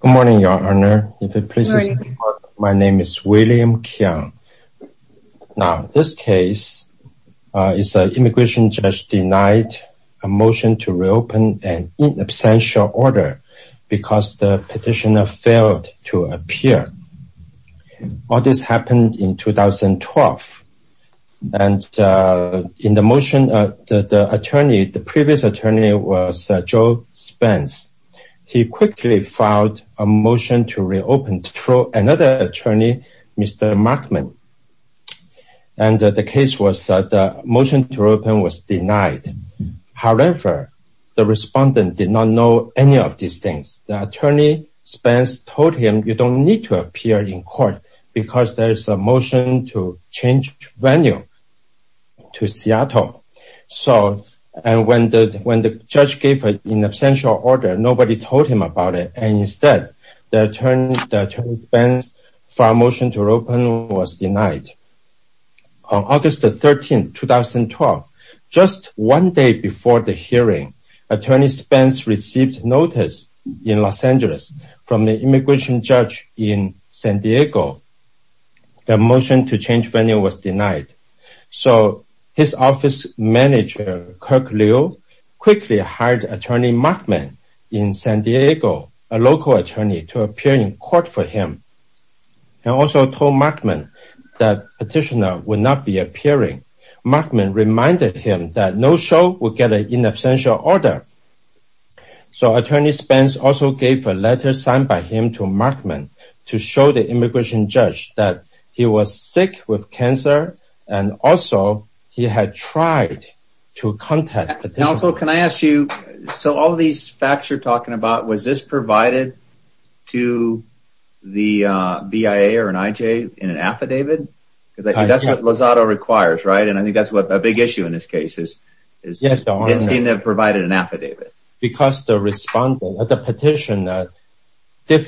Good morning, Your Honor. If it pleases you, my name is William Kiang. Now this case is an immigration judge denied a motion to reopen an in absentia order because the petitioner failed to appear. All this happened in 2012 and in the motion, the previous attorney was Joe Spence. He quickly filed a motion to reopen through another attorney, Mr. Markman, and the case was that the motion to open was denied. However, the respondent did not know any of these things. The attorney Spence told him you don't need to appear in court because there's a motion to change venue to Seattle. So when the judge gave an in absentia order, nobody told him about it and instead, the attorney Spence's motion to open was denied. On August 13, 2012, just one day before the hearing, attorney Spence received notice in Los Angeles from the immigration judge in San Diego. The motion to change venue was denied. So his office manager, Kirk Liu, quickly hired attorney Markman in San Diego, a local attorney, to appear in court for him and also told Markman that petitioner would not be appearing. Markman reminded him that no show would get an in absentia order. So attorney Spence also gave a letter signed by him to Markman to show the immigration judge that he was sick with cancer and also he had tried to contact the petitioner. Also, can I ask you, so all these facts you're talking about, was this provided to the BIA or an IJ in an affidavit? Because I think that's what Lozado requires, right? And I think that's what a big issue in this case is. Yes. It seemed to have provided an affidavit. Because the respondent at the petitioner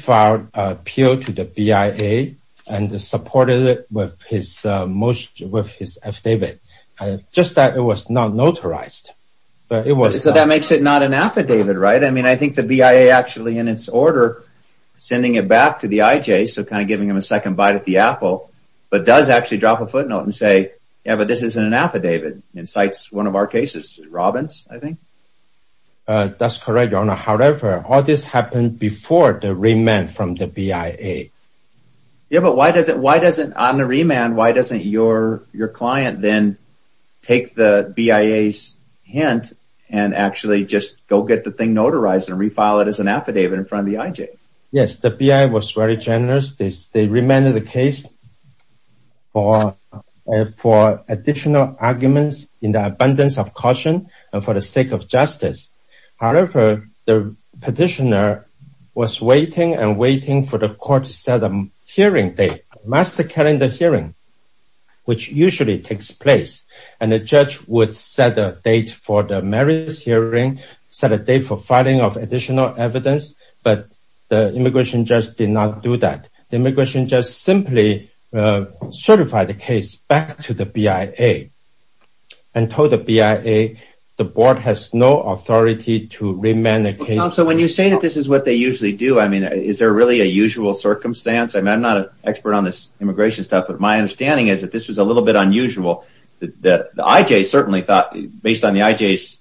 filed appeal to the BIA and supported it with his motion, with his affidavit. Just that it was not notarized. So that makes it not an affidavit, right? I mean, I think the BIA actually in its order sending it back to the IJ, so kind of giving him a second bite at the apple, but does actually drop a footnote and say, yeah, but this isn't an affidavit. It cites one of our cases, Robbins, I think. That's correct, Your Honor. However, all this happened before the remand from the BIA. Yeah, but why doesn't, on the remand, why doesn't your client then take the BIA's hint and actually just go get the thing notarized and refile it as an affidavit in front of the IJ? Yes, the BIA was very generous. They remanded the case for additional arguments in the abundance of caution and for the sake of justice. However, the petitioner was waiting and waiting for the court to set a hearing date, master calendar hearing, which usually takes place. And the judge would set a date for the merits hearing, set a date for filing of additional evidence. But the immigration judge did not do that. The immigration judge simply certified the case back to the BIA and told the BIA the board has no authority to remand the case. Well, counsel, when you say that this is what they usually do, I mean, is there really a usual circumstance? I mean, I'm not an expert on this immigration stuff, but my understanding is that this was a little bit unusual. The IJ certainly thought, based on the IJ's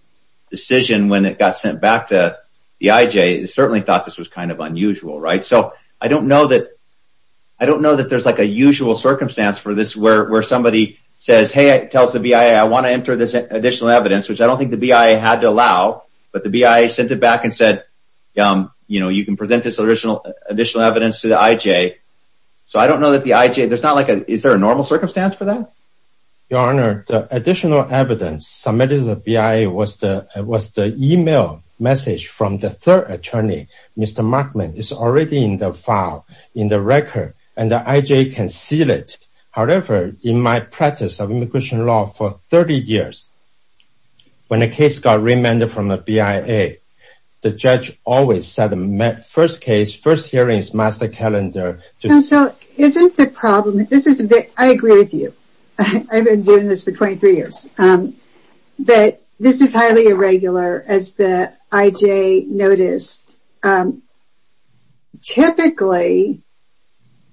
decision when it got sent back to the IJ, certainly thought this was kind of unusual, right? So I don't know that I don't know that there's like a usual circumstance for this where somebody says, hey, it tells the BIA, I want to enter this additional evidence, which I don't think the BIA had to allow. But the BIA sent it back and said, you know, you can present this original additional evidence to the IJ. So I don't know that the IJ there's not like a is there a normal circumstance for that? Your Honor, the additional evidence submitted to the BIA was the was the email message from the third attorney. Mr. Markman is already in the file in the record and the IJ can seal it. However, in my practice of immigration law for 30 years, when a case got remanded from the BIA, the judge always said the first case, first hearing is master calendar. So isn't the problem, this is a bit, I agree with you. I've been doing this for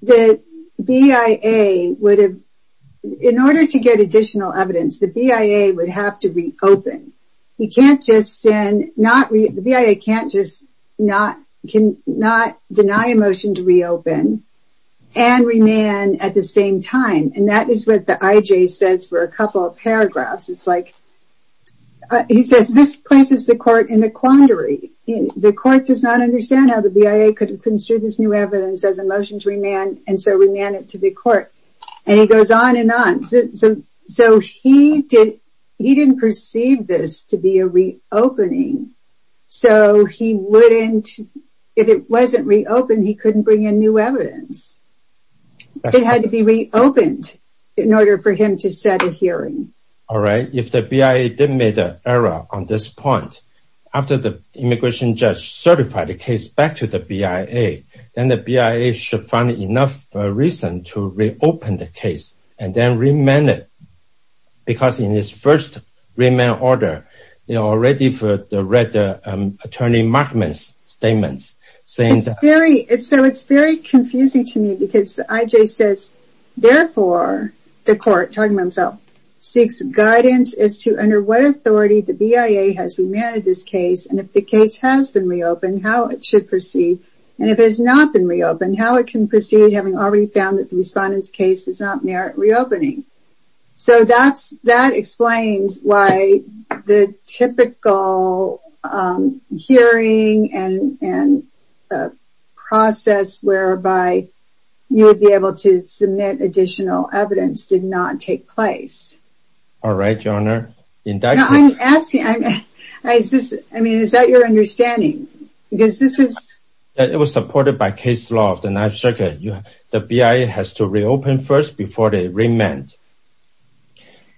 the BIA would have, in order to get additional evidence, the BIA would have to reopen. He can't just send not the BIA can't just not can not deny a motion to reopen and remand at the same time. And that is what the IJ says for a couple of paragraphs. It's like he says this places the court in a quandary. The court does not understand how the BIA could have construed this new evidence as a motion to remand and so remand it to the court. And he goes on and on. So, so he did. He didn't perceive this to be a reopening. So he wouldn't, if it wasn't reopened, he couldn't bring in new evidence. It had to be reopened in order for him to set a hearing. All right, if the BIA didn't made an error on this point, after the immigration judge certify the case back to the BIA, then the BIA should find enough reason to reopen the case and then remand it. Because in his first remand order, you know, already for the red attorney Markman's statements, saying It's very, it's so it's very confusing to me because IJ says, therefore, the court talking about himself, seeks guidance as to under what authority the BIA has remanded this case. And if the case has been reopened, how it should proceed. And if it has not been reopened, how it can proceed having already found that the respondent's case is not merit reopening. So that's that explains why the typical hearing and and process whereby you would be able to submit additional evidence did not take place. All right, your honor, in that I'm asking, I mean, is that your understanding? Because this is that it was supported by case law of the Ninth Circuit, you the BIA has to reopen first before they remand.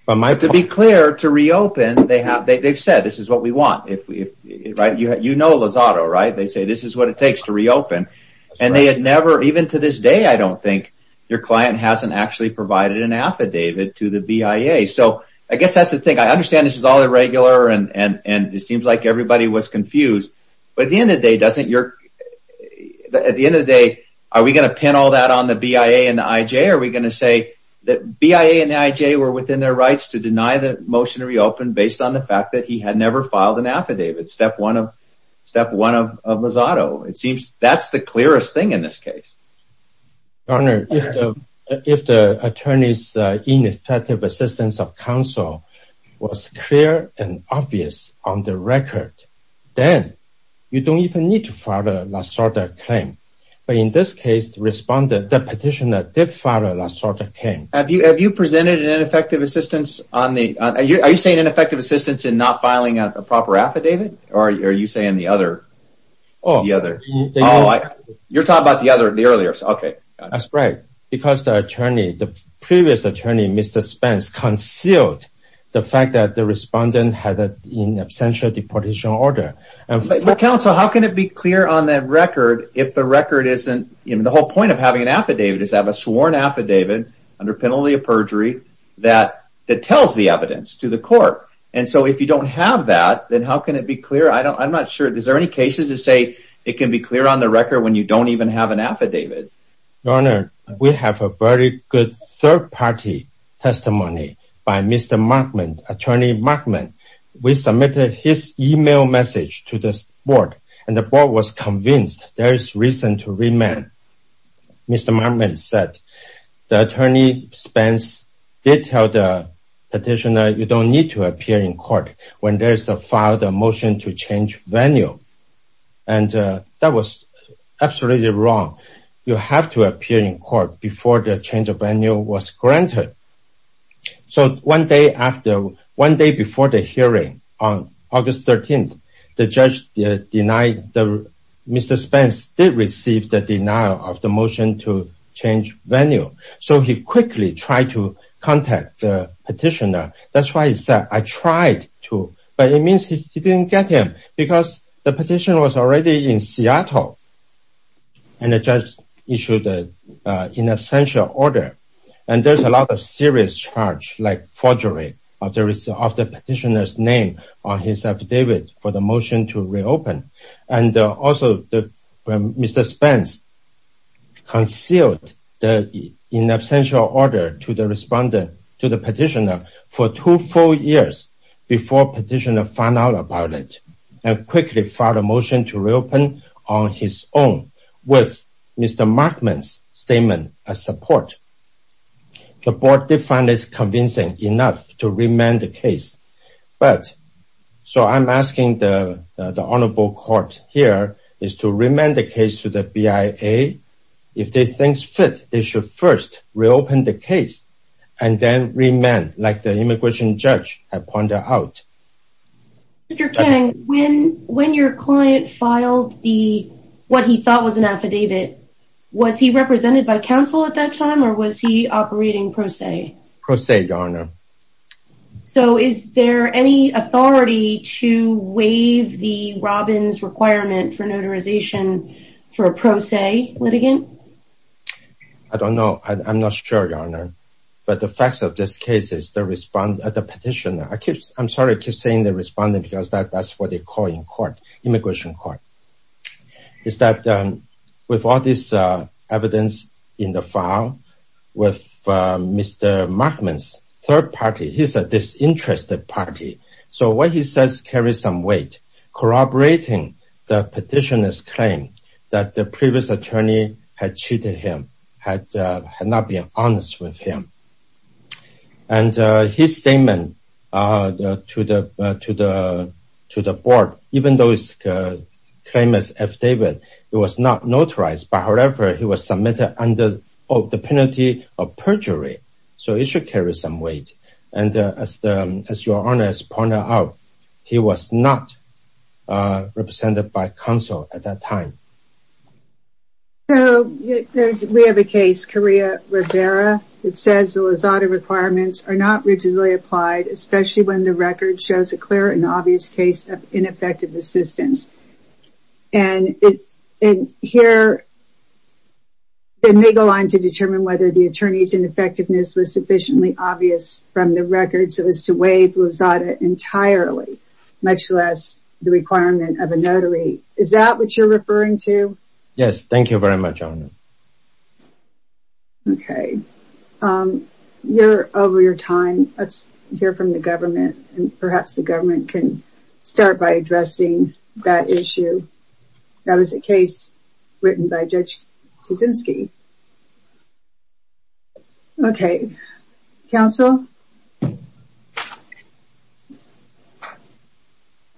But my to be clear to reopen, they have they've said this is what we want. If we if you know Lazado, right, they say this is what it takes to reopen. And they had never even to this day, I don't think your client hasn't actually provided an affidavit to the BIA. So I guess that's the thing. I understand this is all the regular and and it seems like everybody was confused. But at the end of the day, doesn't your at the end of the day, are we going to pin all that on the BIA and the IJ? Are we going to say that BIA and IJ were within their rights to deny the motion to reopen based on the fact that he had never filed an affidavit? Step one of step one of Lazado. It seems that's the clearest thing in this case. Your Honor, if the attorney's ineffective assistance of counsel was clear and obvious on the record, then you don't even need to file a Lazado claim. But in this case, the respondent, the petitioner did file a Lazado claim. Have you have you presented an ineffective assistance on the are you saying ineffective assistance in not filing a proper affidavit? Or are you saying that the defendant did not file an affidavit in the first place? Okay. That's right. Because the attorney, the previous attorney, Mr. Spence, concealed the fact that the respondent had an in absentia deportation order. Counsel, how can it be clear on that record if the record isn't even the whole point of having an affidavit is have a sworn affidavit under penalty of perjury that that tells the evidence to the court. And so if you don't have that, then how can it be clear? I don't I'm not sure. Is there any cases that you can say it can be clear on the record when you don't even have an affidavit? Your Honor, we have a very good third party testimony by Mr. Markman, attorney Markman. We submitted his email message to the board and the board was convinced there is reason to remand. Mr. Markman said the attorney Spence did tell the petitioner you don't need to appear in court when there's a motion to change venue. And that was absolutely wrong. You have to appear in court before the change of venue was granted. So one day after one day before the hearing on August 13th, the judge denied the Mr. Spence did receive the denial of the motion to change venue. So he quickly tried to contact the that's why he said I tried to but it means he didn't get him because the petition was already in Seattle. And the judge issued an in absentia order. And there's a lot of serious charge like forgery of the petitioner's name on his affidavit for the motion to reopen. And also the Mr. Spence concealed the in to the petitioner for two full years before petitioner found out about it and quickly filed a motion to reopen on his own with Mr. Markman's statement of support. The board defined is convincing enough to remand the case. But so I'm asking the honorable court here is to remand the case to the BIA. If they think fit, they should first reopen the case and then remand like the immigration judge had pointed out. Mr. Kang, when when your client filed the what he thought was an affidavit, was he represented by counsel at that time? Or was he operating pro se? Pro se, your honor. So is there any authority to waive the Robbins requirement for notarization for pro se litigant? I don't know. I'm not sure your honor. But the facts of this case is the respond at the petitioner. I'm sorry to saying the respondent because that that's what they call in court, immigration court. Is that with all this evidence in the file with Mr. Markman's third party, he's a disinterested party. So what he says carry some weight, corroborating the petitioner's claim that the previous attorney had cheated him, had had not been honest with him. And his statement to the to the to the board, even though his claim is affidavit, it was not notarized. But however, he was submitted under the penalty of perjury. So it should carry some weight. And as the as your honor has pointed out, he was not represented by counsel at that time. So there's we have a case, Correa Rivera, that says the Lozada requirements are not rigidly applied, especially when the record shows a clear and obvious case of ineffective assistance. And it is here. And they go on to determine whether the attorney's ineffectiveness was sufficiently obvious from the record. So as to Lozada entirely, much less the requirement of a notary. Is that what you're referring to? Yes, thank you very much. Okay. You're over your time. Let's hear from the government. And perhaps the government can start by addressing that issue. That is a very good question.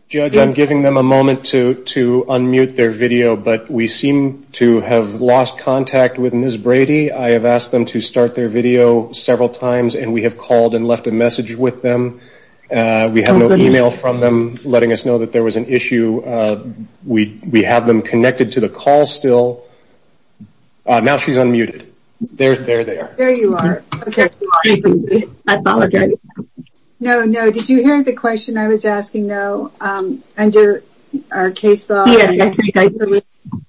Judge, I'm giving them a moment to to unmute their video, but we seem to have lost contact with Ms. Brady. I have asked them to start their video several times and we have called and left a message with them. We have no email from them letting us know that there was an issue. We we have them connected to the call still. Now she's unmuted. There's there they are. There you are. Okay. I apologize. No, no. Did you hear the question I was asking? No. Under our case law.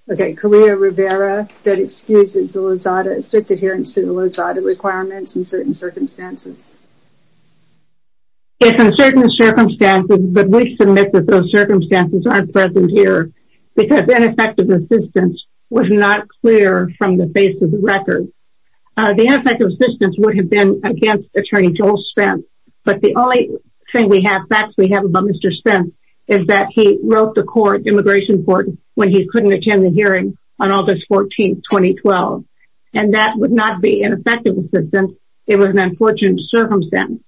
Okay, Correa Rivera, that excuses the Lozada strict adherence to the Lozada requirements in certain circumstances. It's in certain circumstances, but we submit that those circumstances aren't present here. Because ineffective assistance was not clear from the face of the record. The effective assistance would have been against Attorney Joel Spence. But the only thing we have facts we have about Mr. Spence is that he wrote the court immigration court when he couldn't attend the hearing on August 14 2012. And that would not be ineffective assistance. It was an unfortunate circumstance.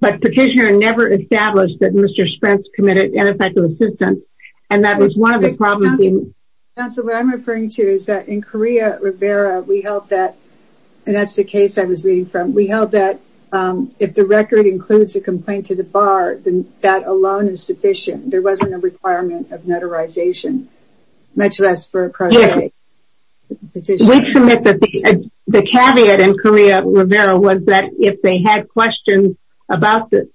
But petitioner never established that Mr. Spence committed ineffective assistance. And that was one of the problems. That's what I'm referring to is that in Correa Rivera, we held that. And that's the case I was reading from we held that if the record includes a complaint to the bar, then that alone is sufficient. There wasn't a requirement of notarization, much less for a pro. The caveat in Correa Rivera was that if they had questions about the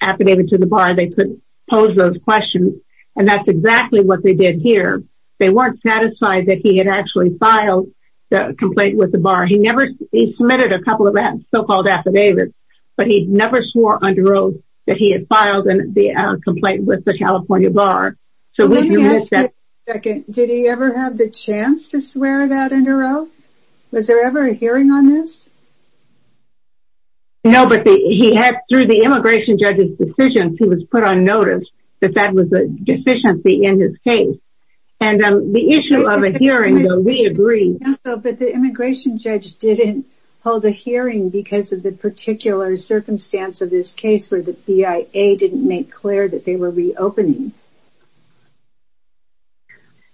affidavit to the bar, they could pose those questions. And that's exactly what they did here. They weren't satisfied that he had actually filed the complaint with the bar. He never he submitted a couple of that so called affidavits. But he never swore under oath that he had filed and the complaint with the California bar. So did he ever have the chance to swear that under oath? Was there ever a hearing on this? No, but he had through the immigration judge's decisions, he was put on notice that that was a deficiency in his case. And the issue of a hearing, we agree. But the immigration judge didn't hold a hearing because of the particular circumstance of this case where the BIA didn't make clear that they were reopening.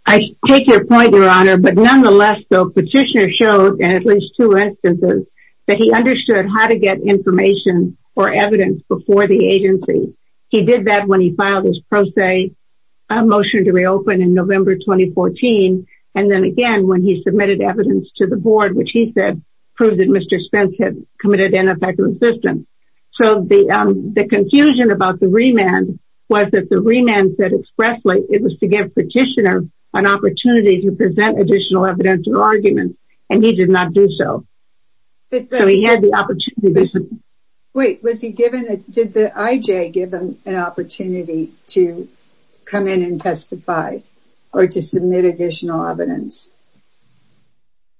I take your point, Your Honor. But nonetheless, though, petitioner showed at least two instances that he understood how to get information or evidence before the agency. He did that when he filed his pro se motion to reopen in November 2014. And then again, when he submitted evidence to the board, which he said, proved that Mr. Spence had committed ineffective assistance. So the confusion about the remand was that the remand that expressly it was to give petitioner an opportunity to present additional evidence or arguments, and he did not do so. So he had the opportunity. Wait, was he given a, did the IJ give him an opportunity to come in and testify, or to submit additional evidence?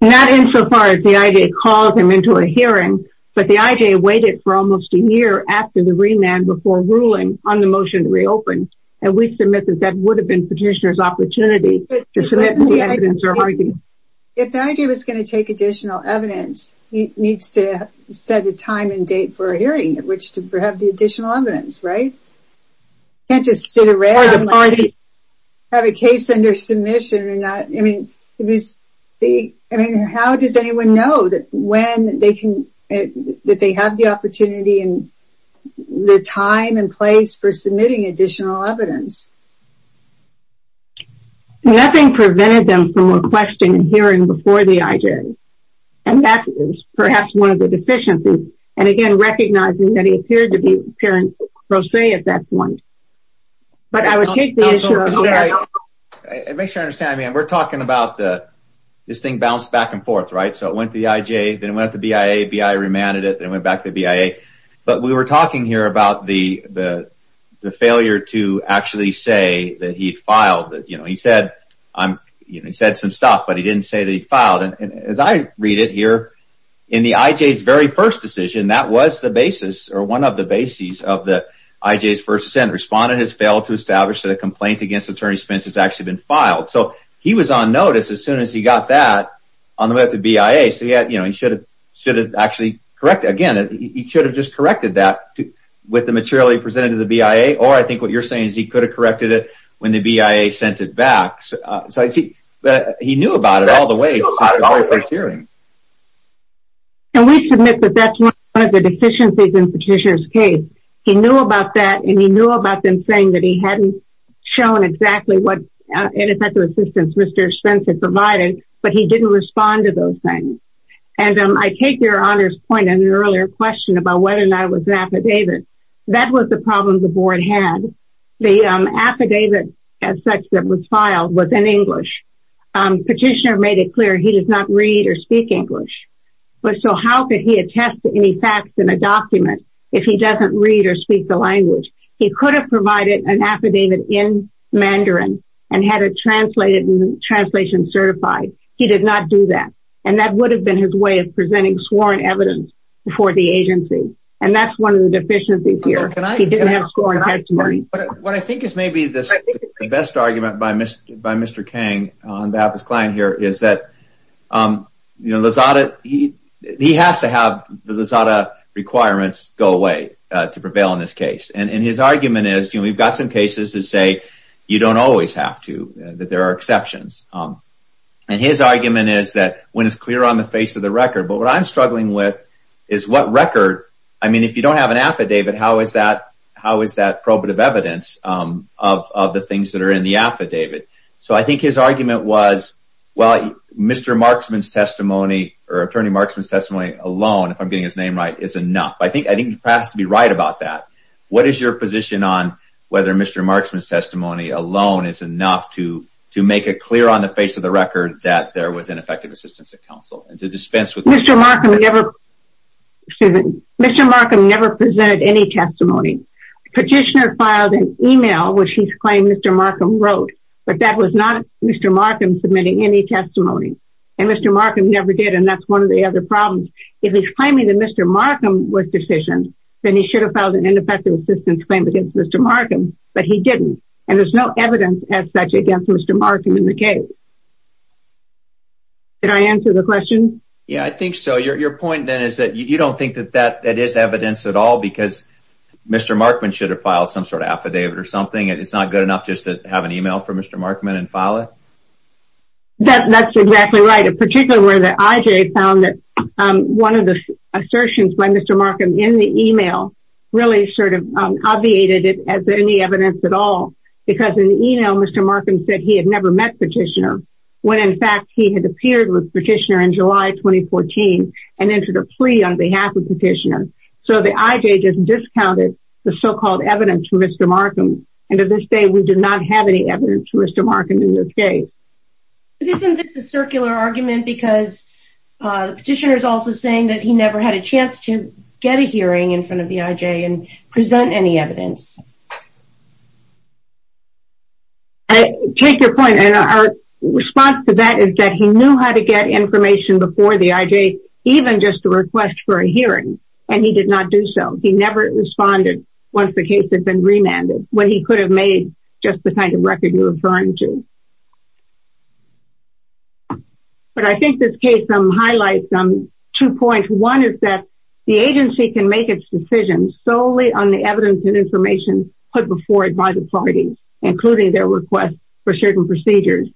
Not insofar as the IJ called him into a hearing, but the IJ waited for almost a year after the remand before ruling on the motion to reopen. And we submit that that would have been petitioner's opportunity to submit any evidence or argument. If the IJ was going to take additional evidence, he needs to set a time and date for a hearing at which to have the additional evidence, right? Can't just sit around and have a case under submission or not. I mean, I mean, how does anyone know that when they can, that they have the opportunity and the time and place for submitting additional evidence? Nothing prevented them from requesting a hearing before the IJ. And that is perhaps one of the deficiencies. And again, recognizing that he appeared to be appearing pro se at that point. But I would take the issue of... Make sure I understand. I mean, we're talking about the, this thing bounced back and forth, right? So it went to the IJ, then went to BIA, BIA remanded it, then went back to BIA. But we were talking here about the failure to actually say that he'd filed. He said some stuff, but he didn't say that he'd filed. And as I read it here, in the IJ's very first decision, that was the basis, or one of the bases of the IJ's first assent. Respondent has failed to establish that a complaint against Attorney Spence has actually been filed. So he was on notice as soon as he got that on the way up to BIA. So he had, you know, he should have actually corrected. Again, he should have just corrected that with the material he presented to the BIA. Or I think what you're saying is he could have corrected it when the BIA sent it back. So I think that he knew about it all the way since the very first hearing. And we submit that that's one of the deficiencies in Patricia's case. He knew about that, and he knew about them saying that he hadn't shown exactly what, in effect, the assistance Mr. Spence had provided, but he didn't respond to those things. And I take your honor's point on an earlier question about whether or not it was in hand. The affidavit as such that was filed was in English. Petitioner made it clear he does not read or speak English. But so how could he attest to any facts in a document, if he doesn't read or speak the language? He could have provided an affidavit in Mandarin, and had it translated and translation certified. He did not do that. And that would have been his way of presenting sworn evidence for the agency. And that's one of the deficiencies here. He didn't have a sworn testimony. What I think is maybe the best argument by Mr. Kang on behalf of his client here is that he has to have the LAZADA requirements go away to prevail in this case. And his argument is, you know, we've got some cases that say you don't always have to, that there are exceptions. And his argument is that when it's clear on the face of the record. But what I'm saying is, if you have an affidavit, how is that probative evidence of the things that are in the affidavit? So I think his argument was, well, Mr. Marksman's testimony, or Attorney Marksman's testimony alone, if I'm getting his name right, is enough. I think he has to be right about that. What is your position on whether Mr. Marksman's testimony alone is enough to make it clear on the face of the record that there was ineffective assistance at counsel? Mr. Marksman never presented any testimony. Petitioner filed an email, which he claimed Mr. Marksman wrote. But that was not Mr. Marksman submitting any testimony. And Mr. Marksman never did. And that's one of the other problems. If he's claiming that Mr. Marksman was decision, then he should have filed an ineffective assistance claim against Mr. Marksman. But he didn't. And there's no evidence as such against Mr. Marksman in this case. Did I answer the question? Yeah, I think so. Your point then is that you don't think that that is evidence at all because Mr. Marksman should have filed some sort of affidavit or something. It's not good enough just to have an email from Mr. Marksman and file it? That's exactly right. Particularly where the IJ found that one of the assertions by Mr. Marksman in the email really sort of obviated it as any evidence at all. Because in the email, Mr. Marksman said he had never met when in fact he had appeared with Petitioner in July 2014 and entered a plea on behalf of Petitioner. So the IJ just discounted the so-called evidence from Mr. Marksman. And to this day, we do not have any evidence from Mr. Marksman in this case. But isn't this a circular argument because Petitioner is also saying that he never had a chance to get a hearing in front of the IJ and present any evidence? I take your point. And our response to that is that he knew how to get information before the IJ, even just to request for a hearing. And he did not do so. He never responded once the case had been remanded when he could have made just the kind of record you're referring to. But I think this case highlights two points. One is that the agency can put forward by the party, including their request for certain procedures.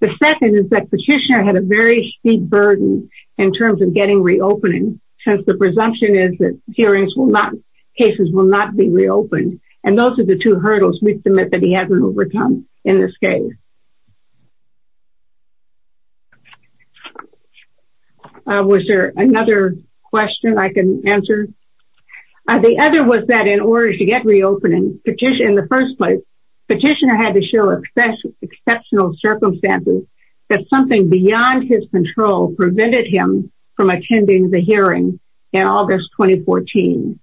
The second is that Petitioner had a very steep burden in terms of getting reopening, since the presumption is that hearings will not, cases will not be reopened. And those are the two hurdles we submit that he hasn't overcome in this case. Was there another question I can answer? The other was that in order to get in the first place, Petitioner had to show exceptional circumstances that something beyond his control prevented him from attending the hearing in August 2012.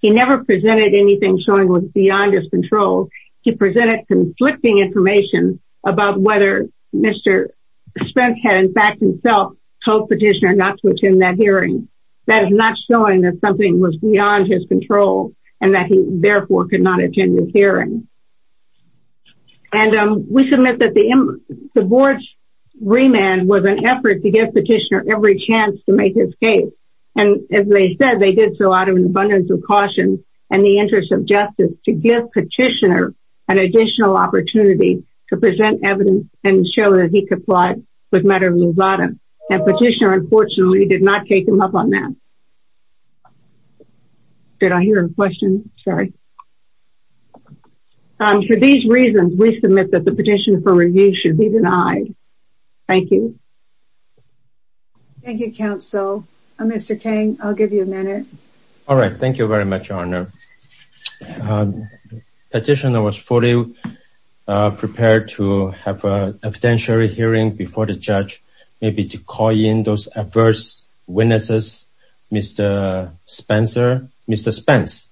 He never presented anything showing it was beyond his control. He presented conflicting information about whether Mr. Spence had, in fact, himself told Petitioner not to attend that hearing. That is not showing that something was beyond his control and that he therefore could not attend the hearing. And we submit that the board's remand was an effort to give Petitioner every chance to make his case. And as they said, they did so out of an abundance of caution and the interest of justice to give Petitioner an additional opportunity to present evidence and show that he complied with the law. Did I hear a question? Sorry. For these reasons, we submit that the petition for review should be denied. Thank you. Thank you, counsel. Mr. Kang, I'll give you a minute. All right. Thank you very much, Your Honor. Petitioner was fully prepared to have an evidentiary hearing before the judge, maybe to call in those adverse witnesses, Mr. Spence,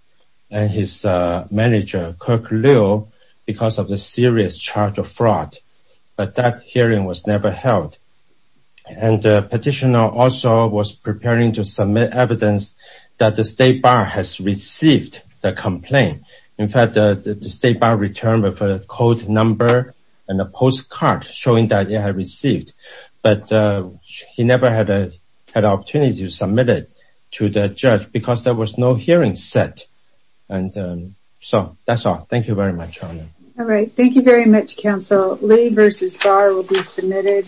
and his manager, Kirk Liu, because of the serious charge of fraud. But that hearing was never held. And Petitioner also was preparing to submit evidence that the State Bar has received the complaint. In fact, the State Bar returned with a code number and a postcard showing that received. But he never had an opportunity to submit it to the judge because there was no hearing set. And so that's all. Thank you very much, Your Honor. All right. Thank you very much, counsel. Lee v. Barr will be submitted.